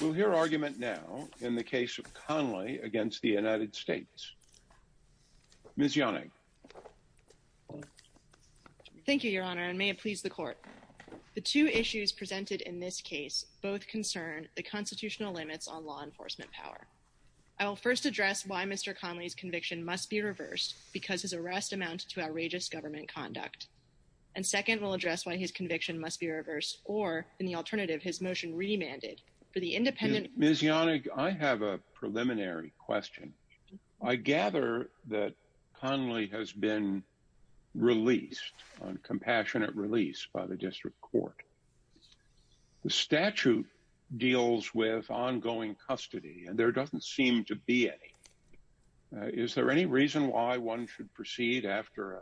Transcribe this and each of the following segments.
We'll hear argument now in the case of Conley against the United States. Ms. Yonning. Thank you, your honor, and may it please the court. The two issues presented in this case both concern the constitutional limits on law enforcement power. I will first address why Mr. Conley's conviction must be reversed because his arrest amounted to outrageous government conduct. And second, we'll address why his conviction must be reversed or, in the alternative, his motion remanded for the independent. Ms. Yonning, I have a preliminary question. I gather that Conley has been released on compassionate release by the district court. The statute deals with ongoing custody and there doesn't seem to be any. Is there any reason why one should proceed after a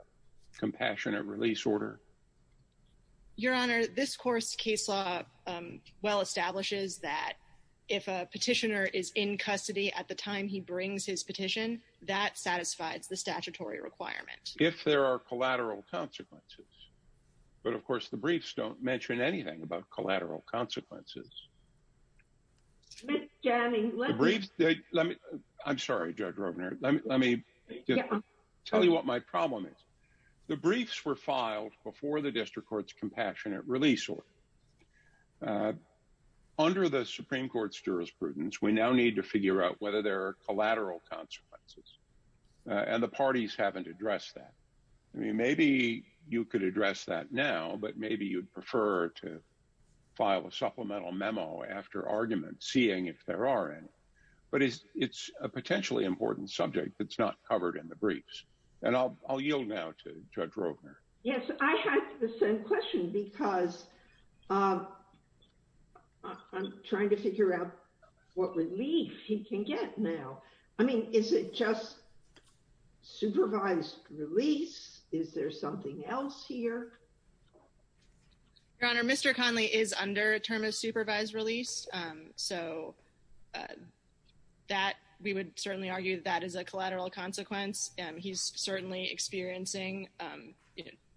case law well establishes that if a petitioner is in custody at the time he brings his petition, that satisfies the statutory requirement? If there are collateral consequences. But, of course, the briefs don't mention anything about collateral consequences. Ms. Yonning, let me. I'm sorry, Judge Rovner. Let me tell you what my problem is. The briefs were filed before the district court's compassionate release order. Under the Supreme Court's jurisprudence, we now need to figure out whether there are collateral consequences. And the parties haven't addressed that. I mean, maybe you could address that now, but maybe you'd prefer to file a supplemental memo after argument, seeing if there are any. But it's a potentially important subject that's not covered in the briefs. And I'll yield now to Judge Rovner. Yes, I had the same question because I'm trying to figure out what relief he can get now. I mean, is it just supervised release? Is there something else here? Your Honor, Mr. Conley is under a term of supervised release. So that we would certainly argue that that is a collateral consequence. He's certainly experiencing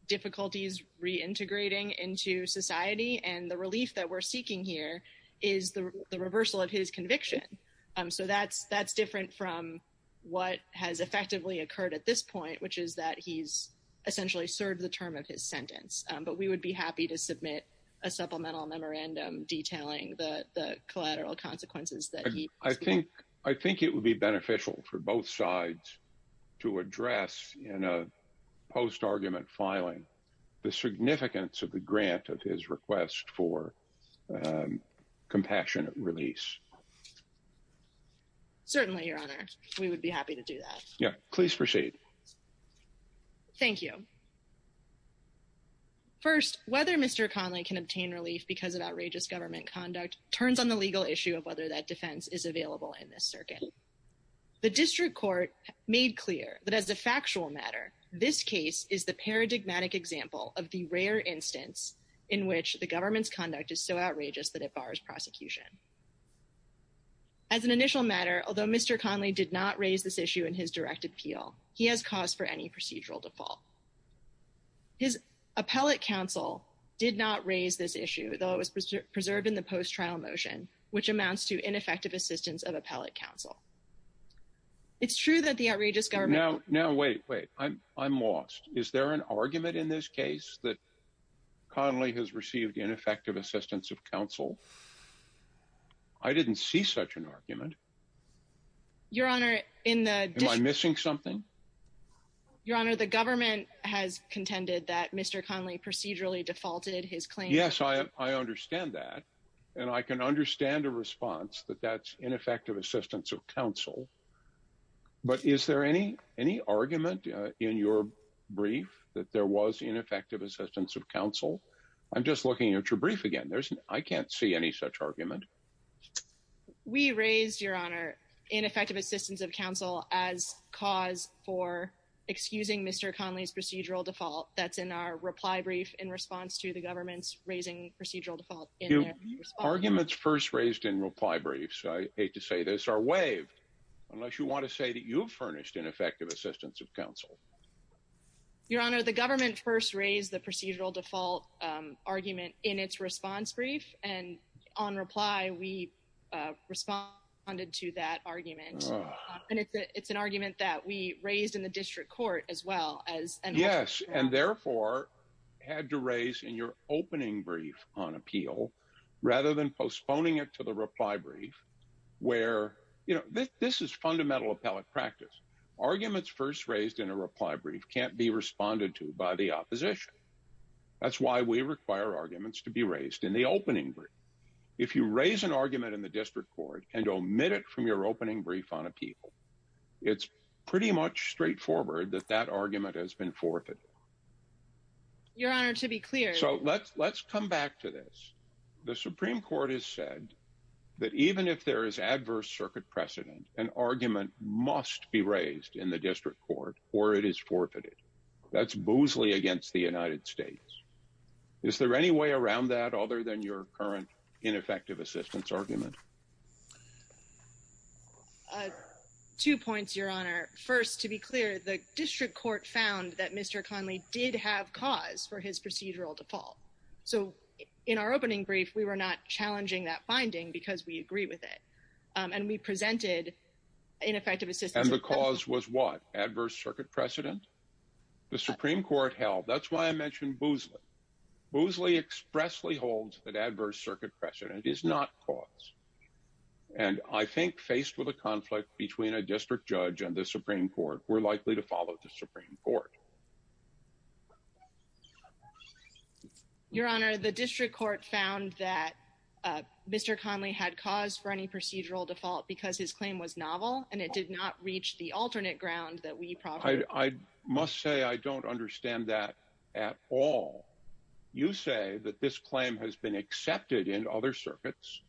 difficulties reintegrating into society. And the relief that we're seeking here is the reversal of his conviction. So that's different from what has effectively occurred at this point, which is that he's essentially served the term of his sentence. But we would be happy to submit a supplemental for both sides to address in a post-argument filing the significance of the grant of his request for compassionate release. Certainly, Your Honor, we would be happy to do that. Please proceed. Thank you. First, whether Mr. Conley can obtain relief because of outrageous government conduct turns on the legal issue of whether that defense is available in this circuit. The district court made clear that as a factual matter, this case is the paradigmatic example of the rare instance in which the government's conduct is so outrageous that it bars prosecution. As an initial matter, although Mr. Conley did not raise this issue in his direct appeal, he has cause for any procedural default. His appellate counsel did not raise this issue, though it was preserved in the post-trial motion, which amounts to ineffective assistance of appellate counsel. It's true that the outrageous government... Now, now, wait, wait. I'm lost. Is there an argument in this case that Conley has received ineffective assistance of counsel? I didn't see such an argument. Your Honor, in the... Am I missing something? Your Honor, the government has contended that Mr. Conley procedurally defaulted his claim... Yes, I understand that. And I can understand a response that that's ineffective assistance of counsel. But is there any argument in your brief that there was ineffective assistance of counsel? I'm just looking at your brief again. I can't see any such argument. We raised, Your Honor, ineffective assistance of counsel as cause for excusing Mr. Conley's raising procedural default in their response... Arguments first raised in reply briefs, I hate to say this, are waived unless you want to say that you've furnished ineffective assistance of counsel. Your Honor, the government first raised the procedural default argument in its response brief. And on reply, we responded to that argument. And it's an argument that we raised in the district court as well as... Yes, and therefore had to raise in your opening brief on appeal, rather than postponing it to the reply brief, where, you know, this is fundamental appellate practice. Arguments first raised in a reply brief can't be responded to by the opposition. That's why we require arguments to be raised in the opening. If you raise an argument in the district court and omit it from your opening brief on appeal, it's pretty much straightforward that that argument has been forfeited. Your Honor, to be clear... So let's come back to this. The Supreme Court has said that even if there is adverse circuit precedent, an argument must be raised in the district court or it is forfeited. That's boozely against the United States. Is there any way around that other than your current ineffective assistance argument? Two points, Your Honor. First, to be clear, the district court found that Mr. Conley did have cause for his procedural default. So in our opening brief, we were not challenging that finding because we agree with it. And we presented ineffective assistance... And the cause was what? Adverse circuit precedent? The Supreme Court held... That's why I mentioned boozely. Boozely expressly holds that adverse circuit precedent is not cause. And I think faced with a conflict between a district judge and the Supreme Court, we're likely to follow the Supreme Court. Your Honor, the district court found that Mr. Conley had cause for any procedural default because his claim was novel and it did not reach the alternate ground that we probably... I must say I don't understand that at all. You say that this claim has been accepted in other circuits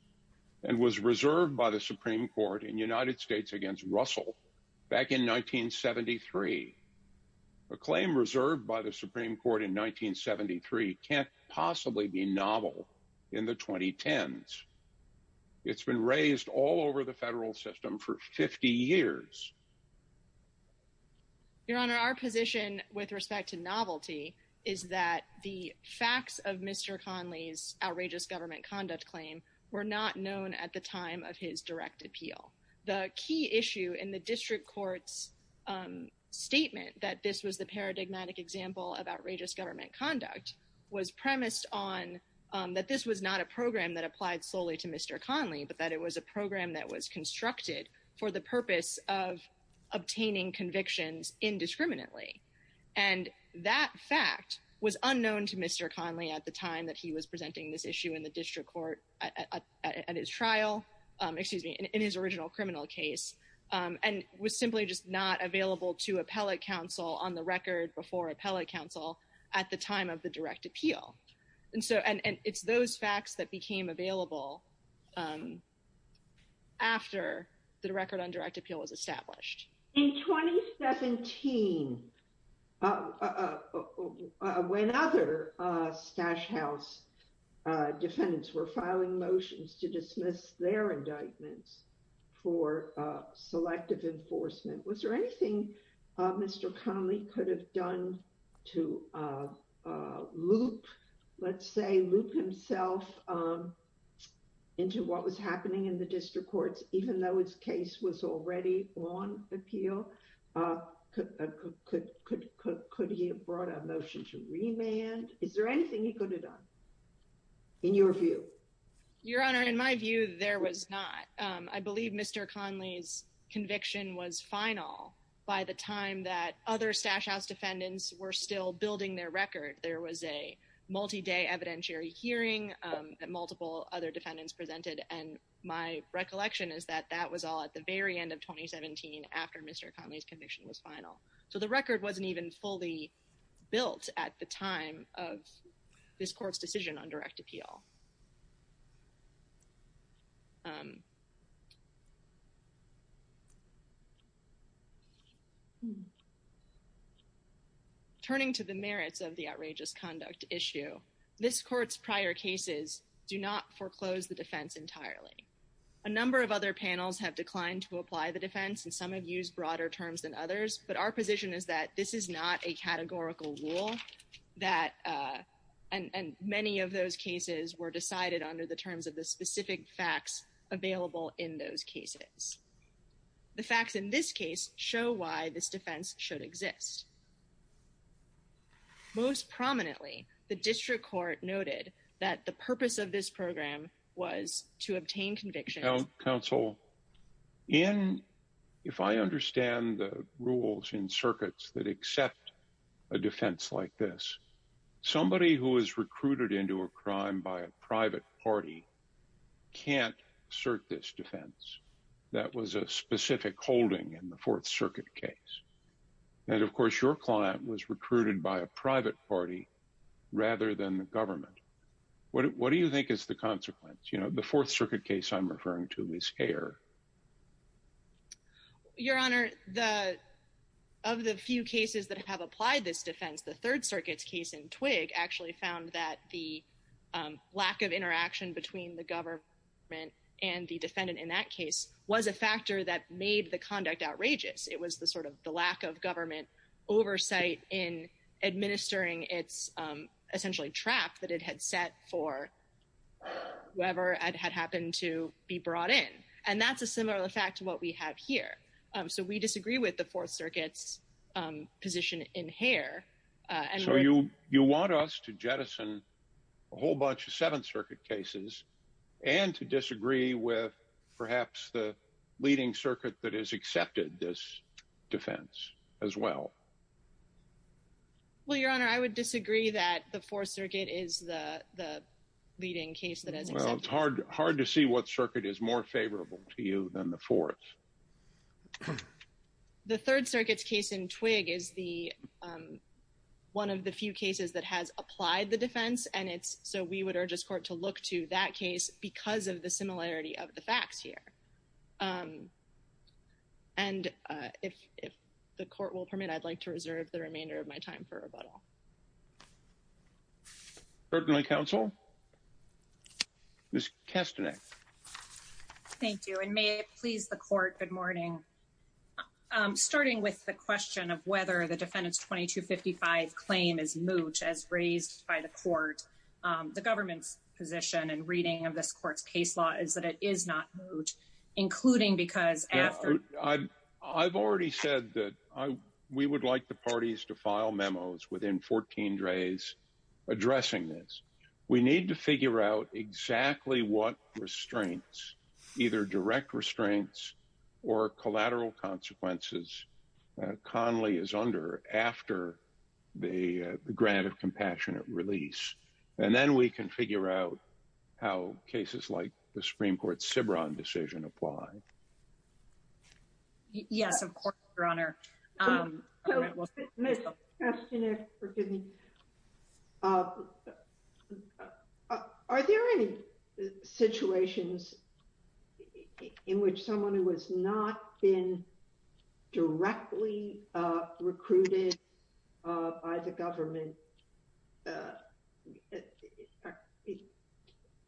and was reserved by the Supreme Court in United States against Russell back in 1973. A claim reserved by the Supreme Court in 1973 can't possibly be novel in the 2010s. It's been raised all over the federal system for 50 years. Your Honor, our position with respect to novelty is that the facts of Mr. Conley's government conduct claim were not known at the time of his direct appeal. The key issue in the district court's statement that this was the paradigmatic example of outrageous government conduct was premised on that this was not a program that applied solely to Mr. Conley, but that it was a program that was constructed for the purpose of obtaining convictions indiscriminately. And that fact was unknown to Mr. Conley at the time that he was presenting this issue in the district court at his trial, excuse me, in his original criminal case and was simply just not available to appellate counsel on the record before appellate counsel at the time of the direct appeal. And so it's those facts that became available after the record on direct house defendants were filing motions to dismiss their indictments for selective enforcement. Was there anything Mr. Conley could have done to loop, let's say loop himself into what was happening in the district courts, even though his case was already on appeal? Could he have brought a motion to remand? Is there anything he could have done in your view? Your honor, in my view, there was not. I believe Mr. Conley's conviction was final by the time that other stash house defendants were still building their record. There was a multi-day evidentiary hearing that multiple other defendants presented. And my recollection is that that was all at the time that Mr. Conley's conviction was final. So the record wasn't even fully built at the time of this court's decision on direct appeal. Turning to the merits of the outrageous conduct issue, this court's prior cases do not foreclose the defense entirely. A number of other panels have declined to apply the defense and some have used broader terms than others, but our position is that this is not a categorical rule that, and many of those cases were decided under the terms of the specific facts available in those cases. The facts in this case show why this defense should exist. Most prominently, the district court noted that the purpose of this program was to obtain convictions. Counsel, if I understand the rules in circuits that accept a defense like this, somebody who was recruited into a crime by a private party can't assert this defense. That was a specific holding in the Fourth Circuit case. And of course, your client was recruited by a private party rather than the government. What do you think is the consequence? You know, the Fourth Circuit case I'm referring to is Heer. Your Honor, of the few cases that have applied this defense, the Third Circuit's case in Twigg actually found that the lack of interaction between the government and the defendant in that case was a factor that made the conduct outrageous. It was the sort of the lack of government oversight in administering its essentially trap that it had set for whoever had happened to be brought in. And that's a similar fact to what we have here. So we disagree with the Fourth Circuit's position in Heer. So you want us to jettison a whole bunch of Seventh Circuit cases and to disagree with perhaps the leading circuit that has accepted this defense as well? Well, Your Honor, I would disagree that the Fourth Circuit is the leading case that has accepted. Well, it's hard to see what circuit is more favorable to you than the Fourth. The Third Circuit's case in Twigg is the one of the few cases that has applied the defense. And it's so we would urge this court to look to that case because of the similarity of the facts here. And if the court will permit, I'd like to reserve the remainder of my time for rebuttal. Certainly, counsel. Ms. Kastanek. Thank you. And may it please the court, good morning. Starting with the question of whether the defendant's 2255 claim is moot as raised by the court, the government's position and reading of this court's case law is that it is not moot, including because after I've already said that we would like the parties to file memos within 14 days addressing this. We need to figure out exactly what restraints, either direct restraints or collateral consequences Conley is under after the grant of compassionate release. And then we can figure out how cases like the Supreme Court's Cibran decision apply. Yes, of course, Your Honor. Are there any situations in which someone who has not been directly recruited by the government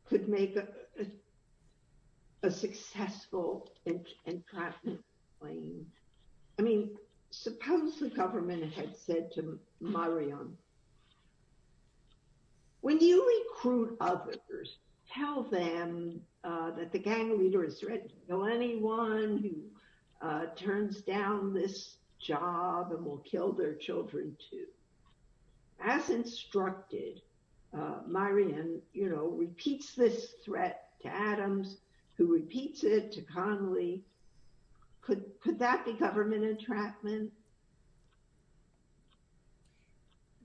could make a successful and practical claim? I mean, suppose the government had said to Myriam, when you recruit others, tell them that the gang leader is ready to kill anyone who this threat to Adams, who repeats it to Conley. Could that be government entrapment?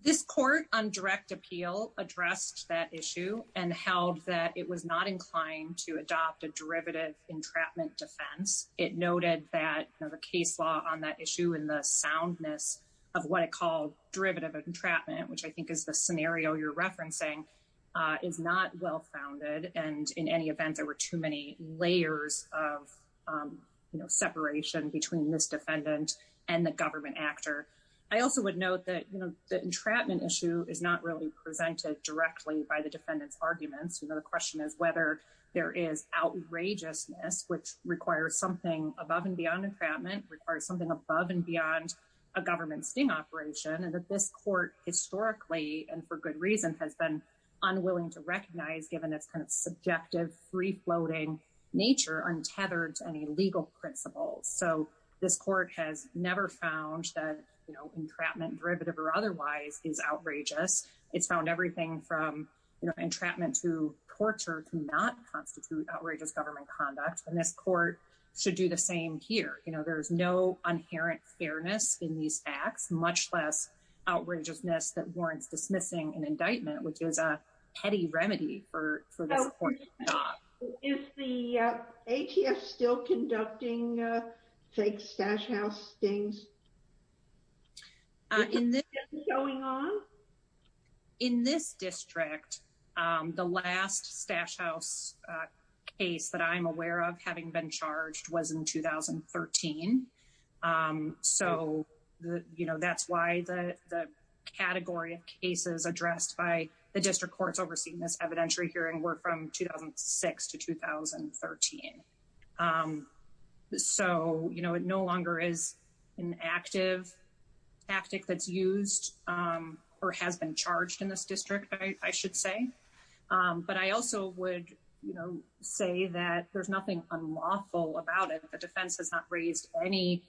This court on direct appeal addressed that issue and held that it was not inclined to adopt a derivative entrapment defense. It noted that the case law on that issue and the soundness of what it called derivative entrapment, which I think is the scenario you're referencing, is not well founded. And in any event, there were too many layers of separation between this defendant and the government actor. I also would note that the entrapment issue is not really presented directly by the defendant's arguments. The question is whether there is outrageousness, which requires something above and beyond entrapment, requires something above and beyond a government sting operation, and that this court historically, and for good reason, has been unwilling to recognize given its subjective, free-floating nature untethered to any legal principles. So this court has never found that entrapment derivative or otherwise is outrageous. It's found everything from entrapment to torture to not constitute outrageous government conduct. And this court should do the same here. There's no inherent fairness in these acts, much less outrageousness that warrants dismissing an indictment, which is a petty remedy for this court. Is the ATS still conducting fake Stash House stings? In this district, the last Stash House case that I'm aware of having been charged was in 2013. So that's why the category of cases addressed by the district courts overseeing this evidentiary hearing were from 2006 to 2013. So it no longer is an active tactic that's used or has been charged in this district, I should say. But I also would say that there's nothing unlawful about it. The defense has not raised any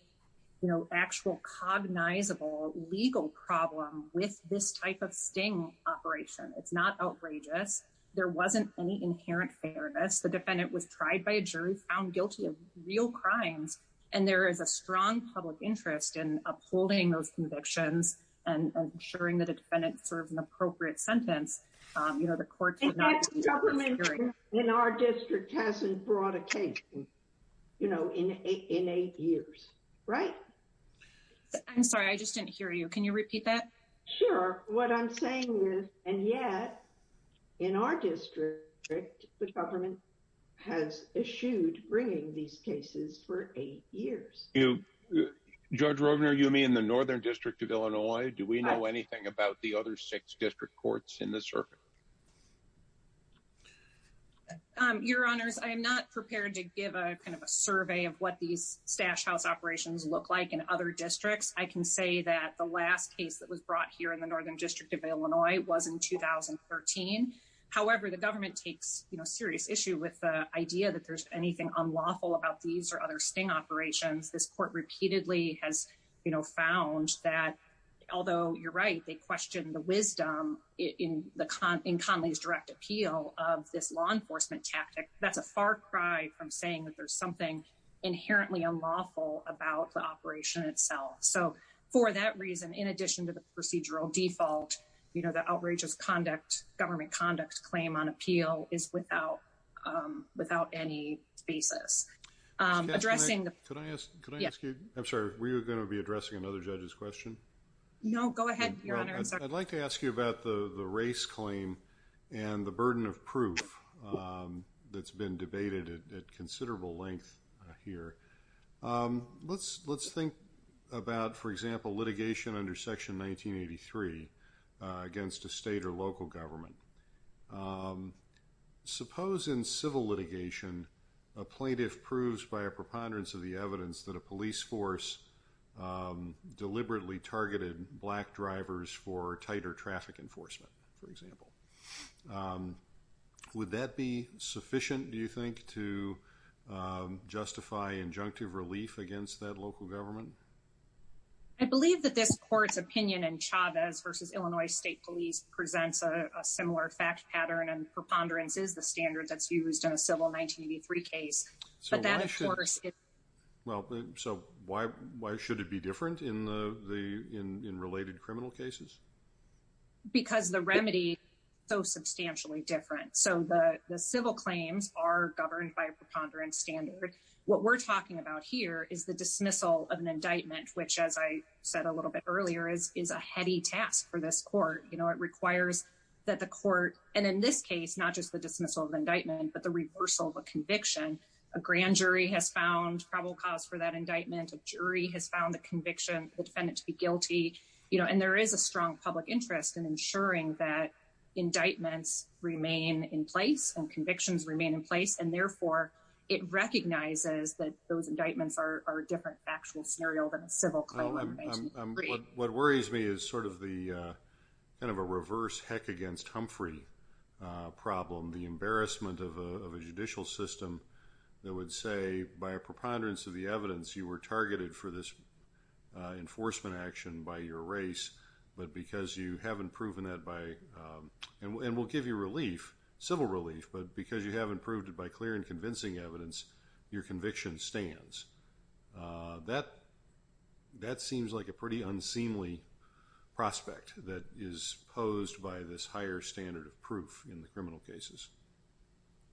actual cognizable legal problem with this type of sting operation. It's not outrageous. There wasn't any inherent fairness. The defendant was tried by a jury, found guilty of real crimes. And there is a strong public interest in upholding those convictions and ensuring that a defendant serves an appropriate sentence. The courts would not do that. The government in our district hasn't brought a case in eight years, right? I'm sorry, I just didn't hear you. Can you repeat that? Sure. What I'm saying is, and yet, in our district, the government has eschewed bringing these cases for eight years. Judge Rovner, you mean the Northern District of Illinois? Do we know anything about the other district courts in the circuit? Your Honors, I am not prepared to give a kind of a survey of what these stash house operations look like in other districts. I can say that the last case that was brought here in the Northern District of Illinois was in 2013. However, the government takes serious issue with the idea that there's anything unlawful about these or other sting operations. This court repeatedly has found that, although you're right, they question the wisdom in Conley's direct appeal of this law enforcement tactic, that's a far cry from saying that there's something inherently unlawful about the operation itself. So for that reason, in addition to the procedural default, the outrageous government conduct claim on appeal is without any basis. I'm sorry, were you going to be addressing another judge's question? No, go ahead, Your Honor. I'd like to ask you about the race claim and the burden of proof that's been debated at considerable length here. Let's think about, for example, litigation under Section 1983 against a state or local government. Suppose in civil litigation, a plaintiff proves by a preponderance of the evidence that a police force deliberately targeted black drivers for tighter traffic enforcement, for example. Would that be sufficient, do you think, to justify injunctive relief against that local government? I believe that this court's opinion in Chavez v. Illinois State Police presents a similar fact pattern, and preponderance is the standard that's used in a civil 1983 case. But that, of course... Well, so why should it be different in related criminal cases? Because the remedy is so substantially different. So the civil claims are governed by a preponderance standard. What we're talking about here is the dismissal of an indictment, which, as I said a little bit earlier, is a heady task for this court. It requires that the court... And in this case, not just the dismissal of indictment, but the reversal of a conviction. A grand jury has found probable cause for that indictment. A jury has found the conviction, the defendant to be guilty. And there is a strong public interest in ensuring that it recognizes that those indictments are a different actual scenario than a civil claim. What worries me is sort of the kind of a reverse heck against Humphrey problem, the embarrassment of a judicial system that would say, by a preponderance of the evidence, you were targeted for this enforcement action by your race, but because you haven't proven that by... And we'll give you relief, civil relief, but because you haven't proved it by clear and convincing evidence, your conviction stands. That seems like a pretty unseemly prospect that is posed by this higher standard of proof in the criminal cases.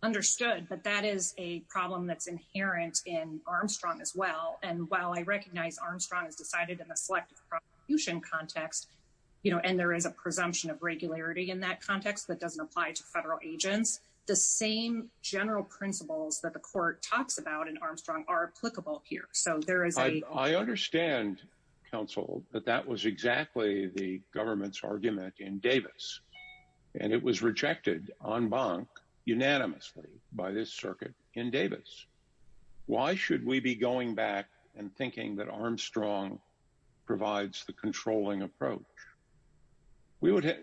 Understood. But that is a problem that's inherent in Armstrong as well. And while I recognize Armstrong has decided in a selective prosecution context, and there is a presumption of regularity in that context that doesn't apply to federal agents, the same general principles that the court talks about in Armstrong are applicable here. So there is a... I understand, counsel, that that was exactly the government's argument in Davis. And it was rejected en banc unanimously by this circuit in Davis. Why should we be going back and thinking that Armstrong provides the controlling approach? We would have...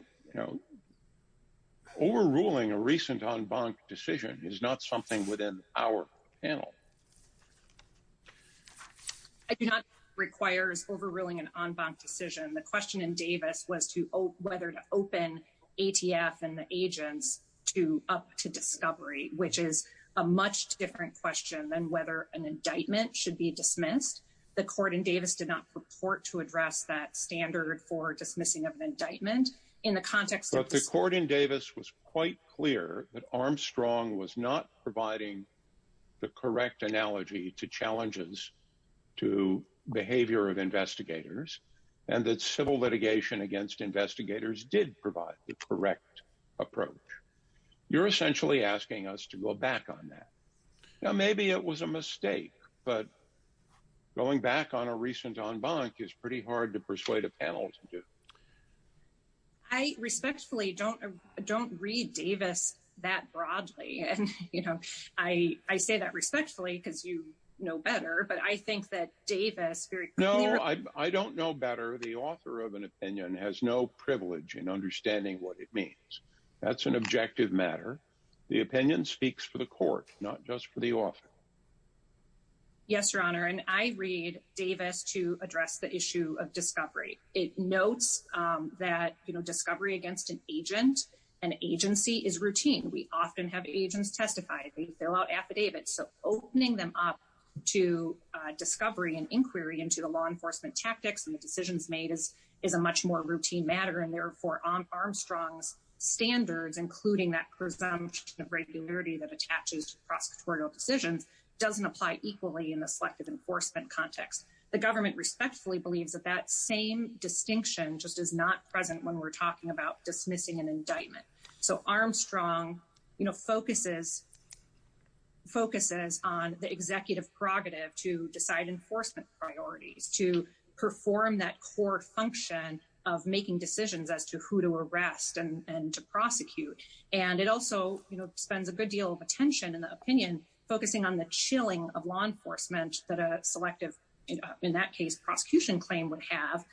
Overruling a recent en banc decision is not something within our panel. I do not think it requires overruling an en banc decision. The question in Davis was to whether to open ATF and the agents up to discovery, which is a much different question than whether an indictment should be dismissed. The court in Davis did not purport to address that standard for dismissing of an indictment in the context of... But the court in Davis was quite clear that Armstrong was not providing the correct analogy to challenges to behavior of investigators and that civil litigation against investigators did provide the correct approach. You're essentially asking us to go back on that. Now, maybe it was a mistake, but going back on a recent en banc is pretty hard to persuade a panel to do. I respectfully don't read Davis that broadly. And I say that respectfully because you know better, but I think that Davis very clearly... No, I don't know better. The author of an opinion has no privilege in understanding what it means. That's an objective matter. The opinion speaks for the court, not just for the author. Yes, Your Honor. And I read Davis to address the issue of discovery. It notes that discovery against an agent and agency is routine. We often have agents testify. They fill out affidavits. So opening them up to discovery and inquiry into the law enforcement tactics and the decisions made is a much more routine matter. And therefore, Armstrong's standards, including that presumption of regularity that attaches to prosecutorial decisions, doesn't apply equally in the selective enforcement context. The government respectfully believes that that same distinction just is not present when we're talking about dismissing an indictment. So Armstrong focuses on the executive prerogative to decide enforcement priorities, to perform that core function of making decisions as to who to arrest and to prosecute. And it also spends a good deal of attention in the opinion, focusing on the chilling of law enforcement that a selective, in that case, prosecution claim would have,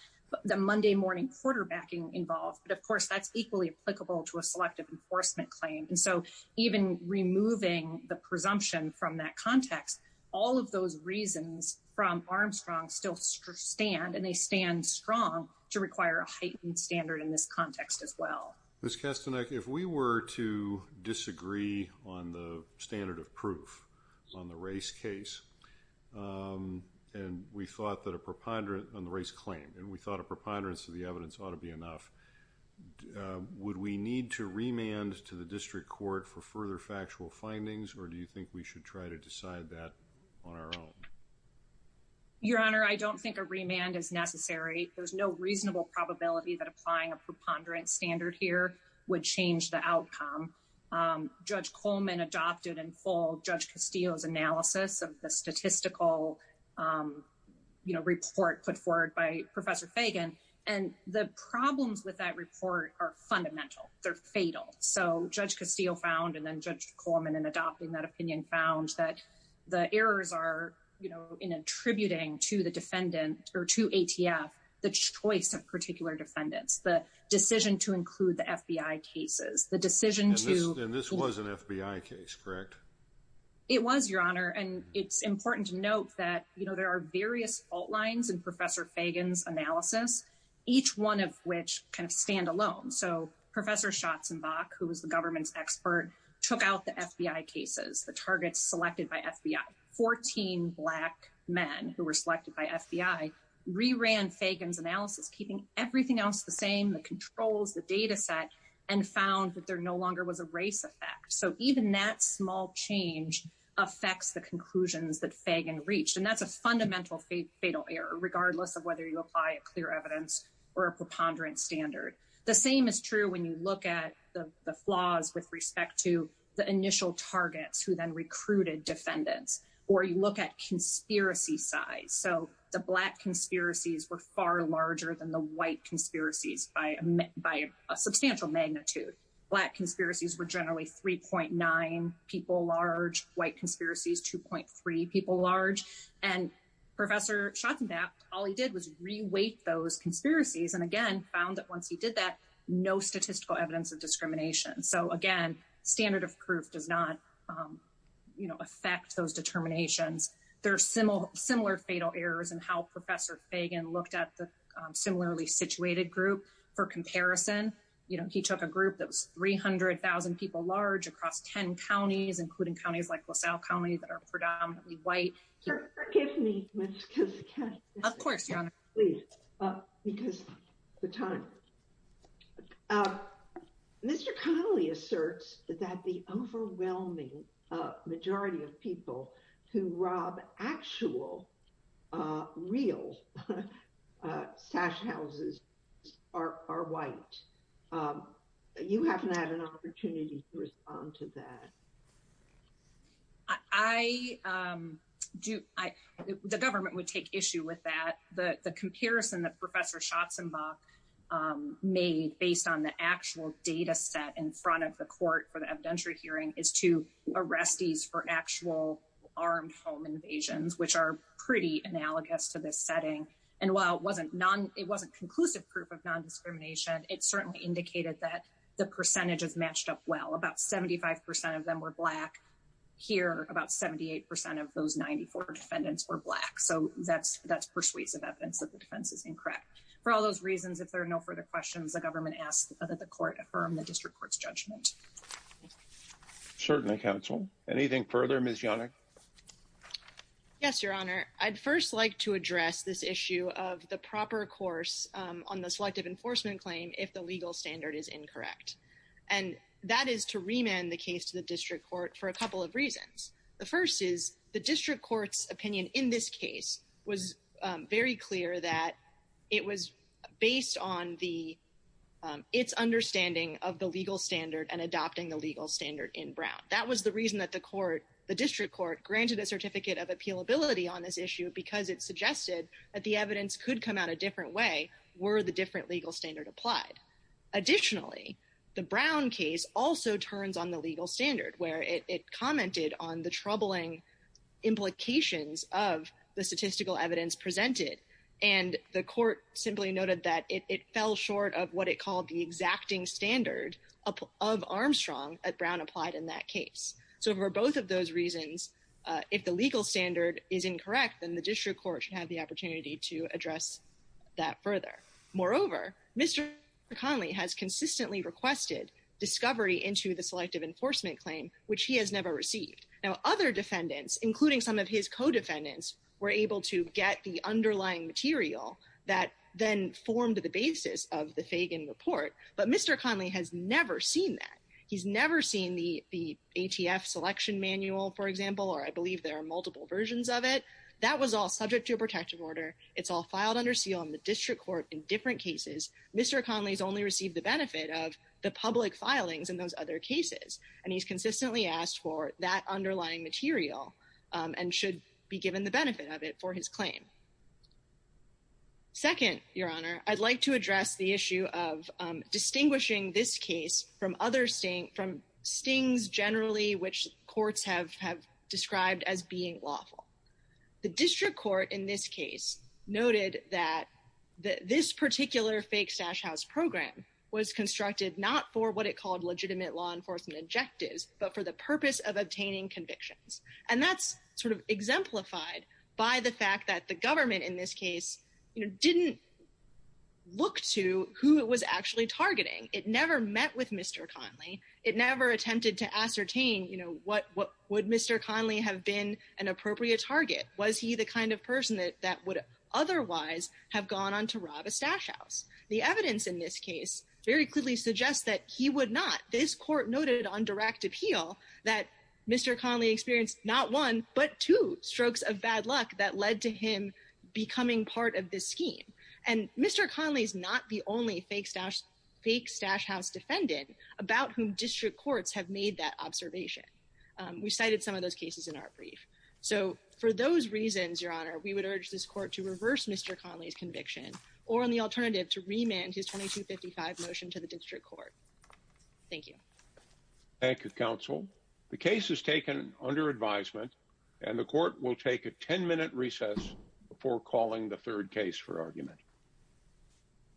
the Monday morning quarterbacking involved. But of course, that's equally applicable to a selective enforcement claim. And so even removing the presumption from that context, all of those reasons from stand, and they stand strong, to require a heightened standard in this context as well. Ms. Kastanek, if we were to disagree on the standard of proof on the race case, and we thought that a preponderance on the race claim, and we thought a preponderance of the evidence ought to be enough, would we need to remand to the district court for further factual findings? Or do you think we should try to decide that on our own? Your Honor, I don't think a remand is necessary. There's no reasonable probability that applying a preponderance standard here would change the outcome. Judge Coleman adopted in full Judge Castillo's analysis of the statistical report put forward by Professor Fagan. And the problems with that report are fundamental. They're fatal. So Judge Castillo found, and then Judge Coleman, in adopting that opinion, found that the errors are, you know, in attributing to the defendant or to ATF, the choice of particular defendants, the decision to include the FBI cases, the decision to... And this was an FBI case, correct? It was, Your Honor. And it's important to note that, you know, there are various fault lines in Professor Fagan's analysis, each one of which kind of stand alone. So Professor Schatzenbach, who was the government's expert, took out the FBI cases, the targets selected by FBI. Fourteen Black men who were selected by FBI re-ran Fagan's analysis, keeping everything else the same, the controls, the data set, and found that there no longer was a race effect. So even that small change affects the conclusions that Fagan reached. And that's a fundamental fatal error, regardless of whether you apply a clear evidence or a preponderance standard. The same is true when you look at the flaws with respect to the initial targets who then recruited defendants, or you look at conspiracy size. So the Black conspiracies were far larger than the white conspiracies by a substantial magnitude. Black conspiracies were generally 3.9 people large, white conspiracies, 2.3 people large. And Professor Schatzenbach, all he did was re-weight those conspiracies, and again, found that once he did that, no statistical evidence of discrimination. So again, standard of proof does not, you know, affect those determinations. There are similar fatal errors in how Professor Fagan looked at the similarly situated group for comparison. You know, he took a group that was 300,000 people large across 10 counties, including counties like LaSalle County that are predominantly white. Sir, forgive me. Of course, Your Honor. Mr. Connolly asserts that the overwhelming majority of people who rob actual real stash houses are white. You haven't had an opportunity to respond to that. I do. The government would take issue with that. The comparison that Professor Schatzenbach made based on the actual data set in front of the court for the evidentiary hearing is to arrestees for actual armed home invasions, which are pretty analogous to this setting. And while it wasn't non, it wasn't conclusive proof of non-discrimination, it certainly indicated that the percentages matched up well. About 75 percent of them were black. Here, about 78 percent of those 94 defendants were black. So that's persuasive evidence that the defense is incorrect. For all those reasons, if there are no further questions, the government asks that the court affirm the district court's judgment. Certainly, counsel. Anything further, Ms. Yannick? Yes, Your Honor. I'd first like to address this issue of the proper course on the selective enforcement claim if the legal standard is incorrect. And that is to remand the case to the district court for a couple of reasons. The first is the district court's opinion in this case was very clear that it was based on its understanding of the legal standard and adopting the legal standard in Brown. That was the reason that the court, the district court, granted a certificate of appealability on this issue because it suggested that the evidence could come out a different way were the different legal standard applied. Additionally, the Brown case also turns on the legal standard where it commented on the troubling implications of the statistical evidence presented. And the court simply noted that it fell short of what it called the exacting standard of Armstrong that Brown applied in that case. So for both of those reasons, if the legal standard is incorrect, then the district court should have the opportunity to address that further. Moreover, Mr. Conley has consistently requested discovery into the selective enforcement claim, which he has never received. Now, other defendants, including some of his co-defendants, were able to get the underlying material that then formed the basis of the Fagan report. But Mr. Conley has never seen that. He's never seen the ATF selection manual, for example, or I believe there are multiple versions of it. That was all subject to a protective order. It's all filed under seal on the district court in different cases. Mr. Conley's only received the benefit of the public filings in those other cases. And he's consistently asked for that underlying material and should be given the benefit of it for his claim. Second, Your Honor, I'd like to address the issue of distinguishing this case from other cases that have described as being lawful. The district court in this case noted that this particular fake stash house program was constructed not for what it called legitimate law enforcement objectives, but for the purpose of obtaining convictions. And that's sort of exemplified by the fact that the government in this case didn't look to who it was actually targeting. It never met with Mr. Conley. It never attempted to ascertain, you know, what would Mr. Conley have been an appropriate target? Was he the kind of person that would otherwise have gone on to rob a stash house? The evidence in this case very clearly suggests that he would not. This court noted on direct appeal that Mr. Conley experienced not one, but two strokes of bad luck that led to becoming part of this scheme. And Mr. Conley is not the only fake stash house defendant about whom district courts have made that observation. We cited some of those cases in our brief. So for those reasons, Your Honor, we would urge this court to reverse Mr. Conley's conviction or on the alternative to remand his 2255 motion to the district court. Thank you. Thank you, counsel. The case is taken under advisement and the court will take a 10-minute recess before calling the third case for argument.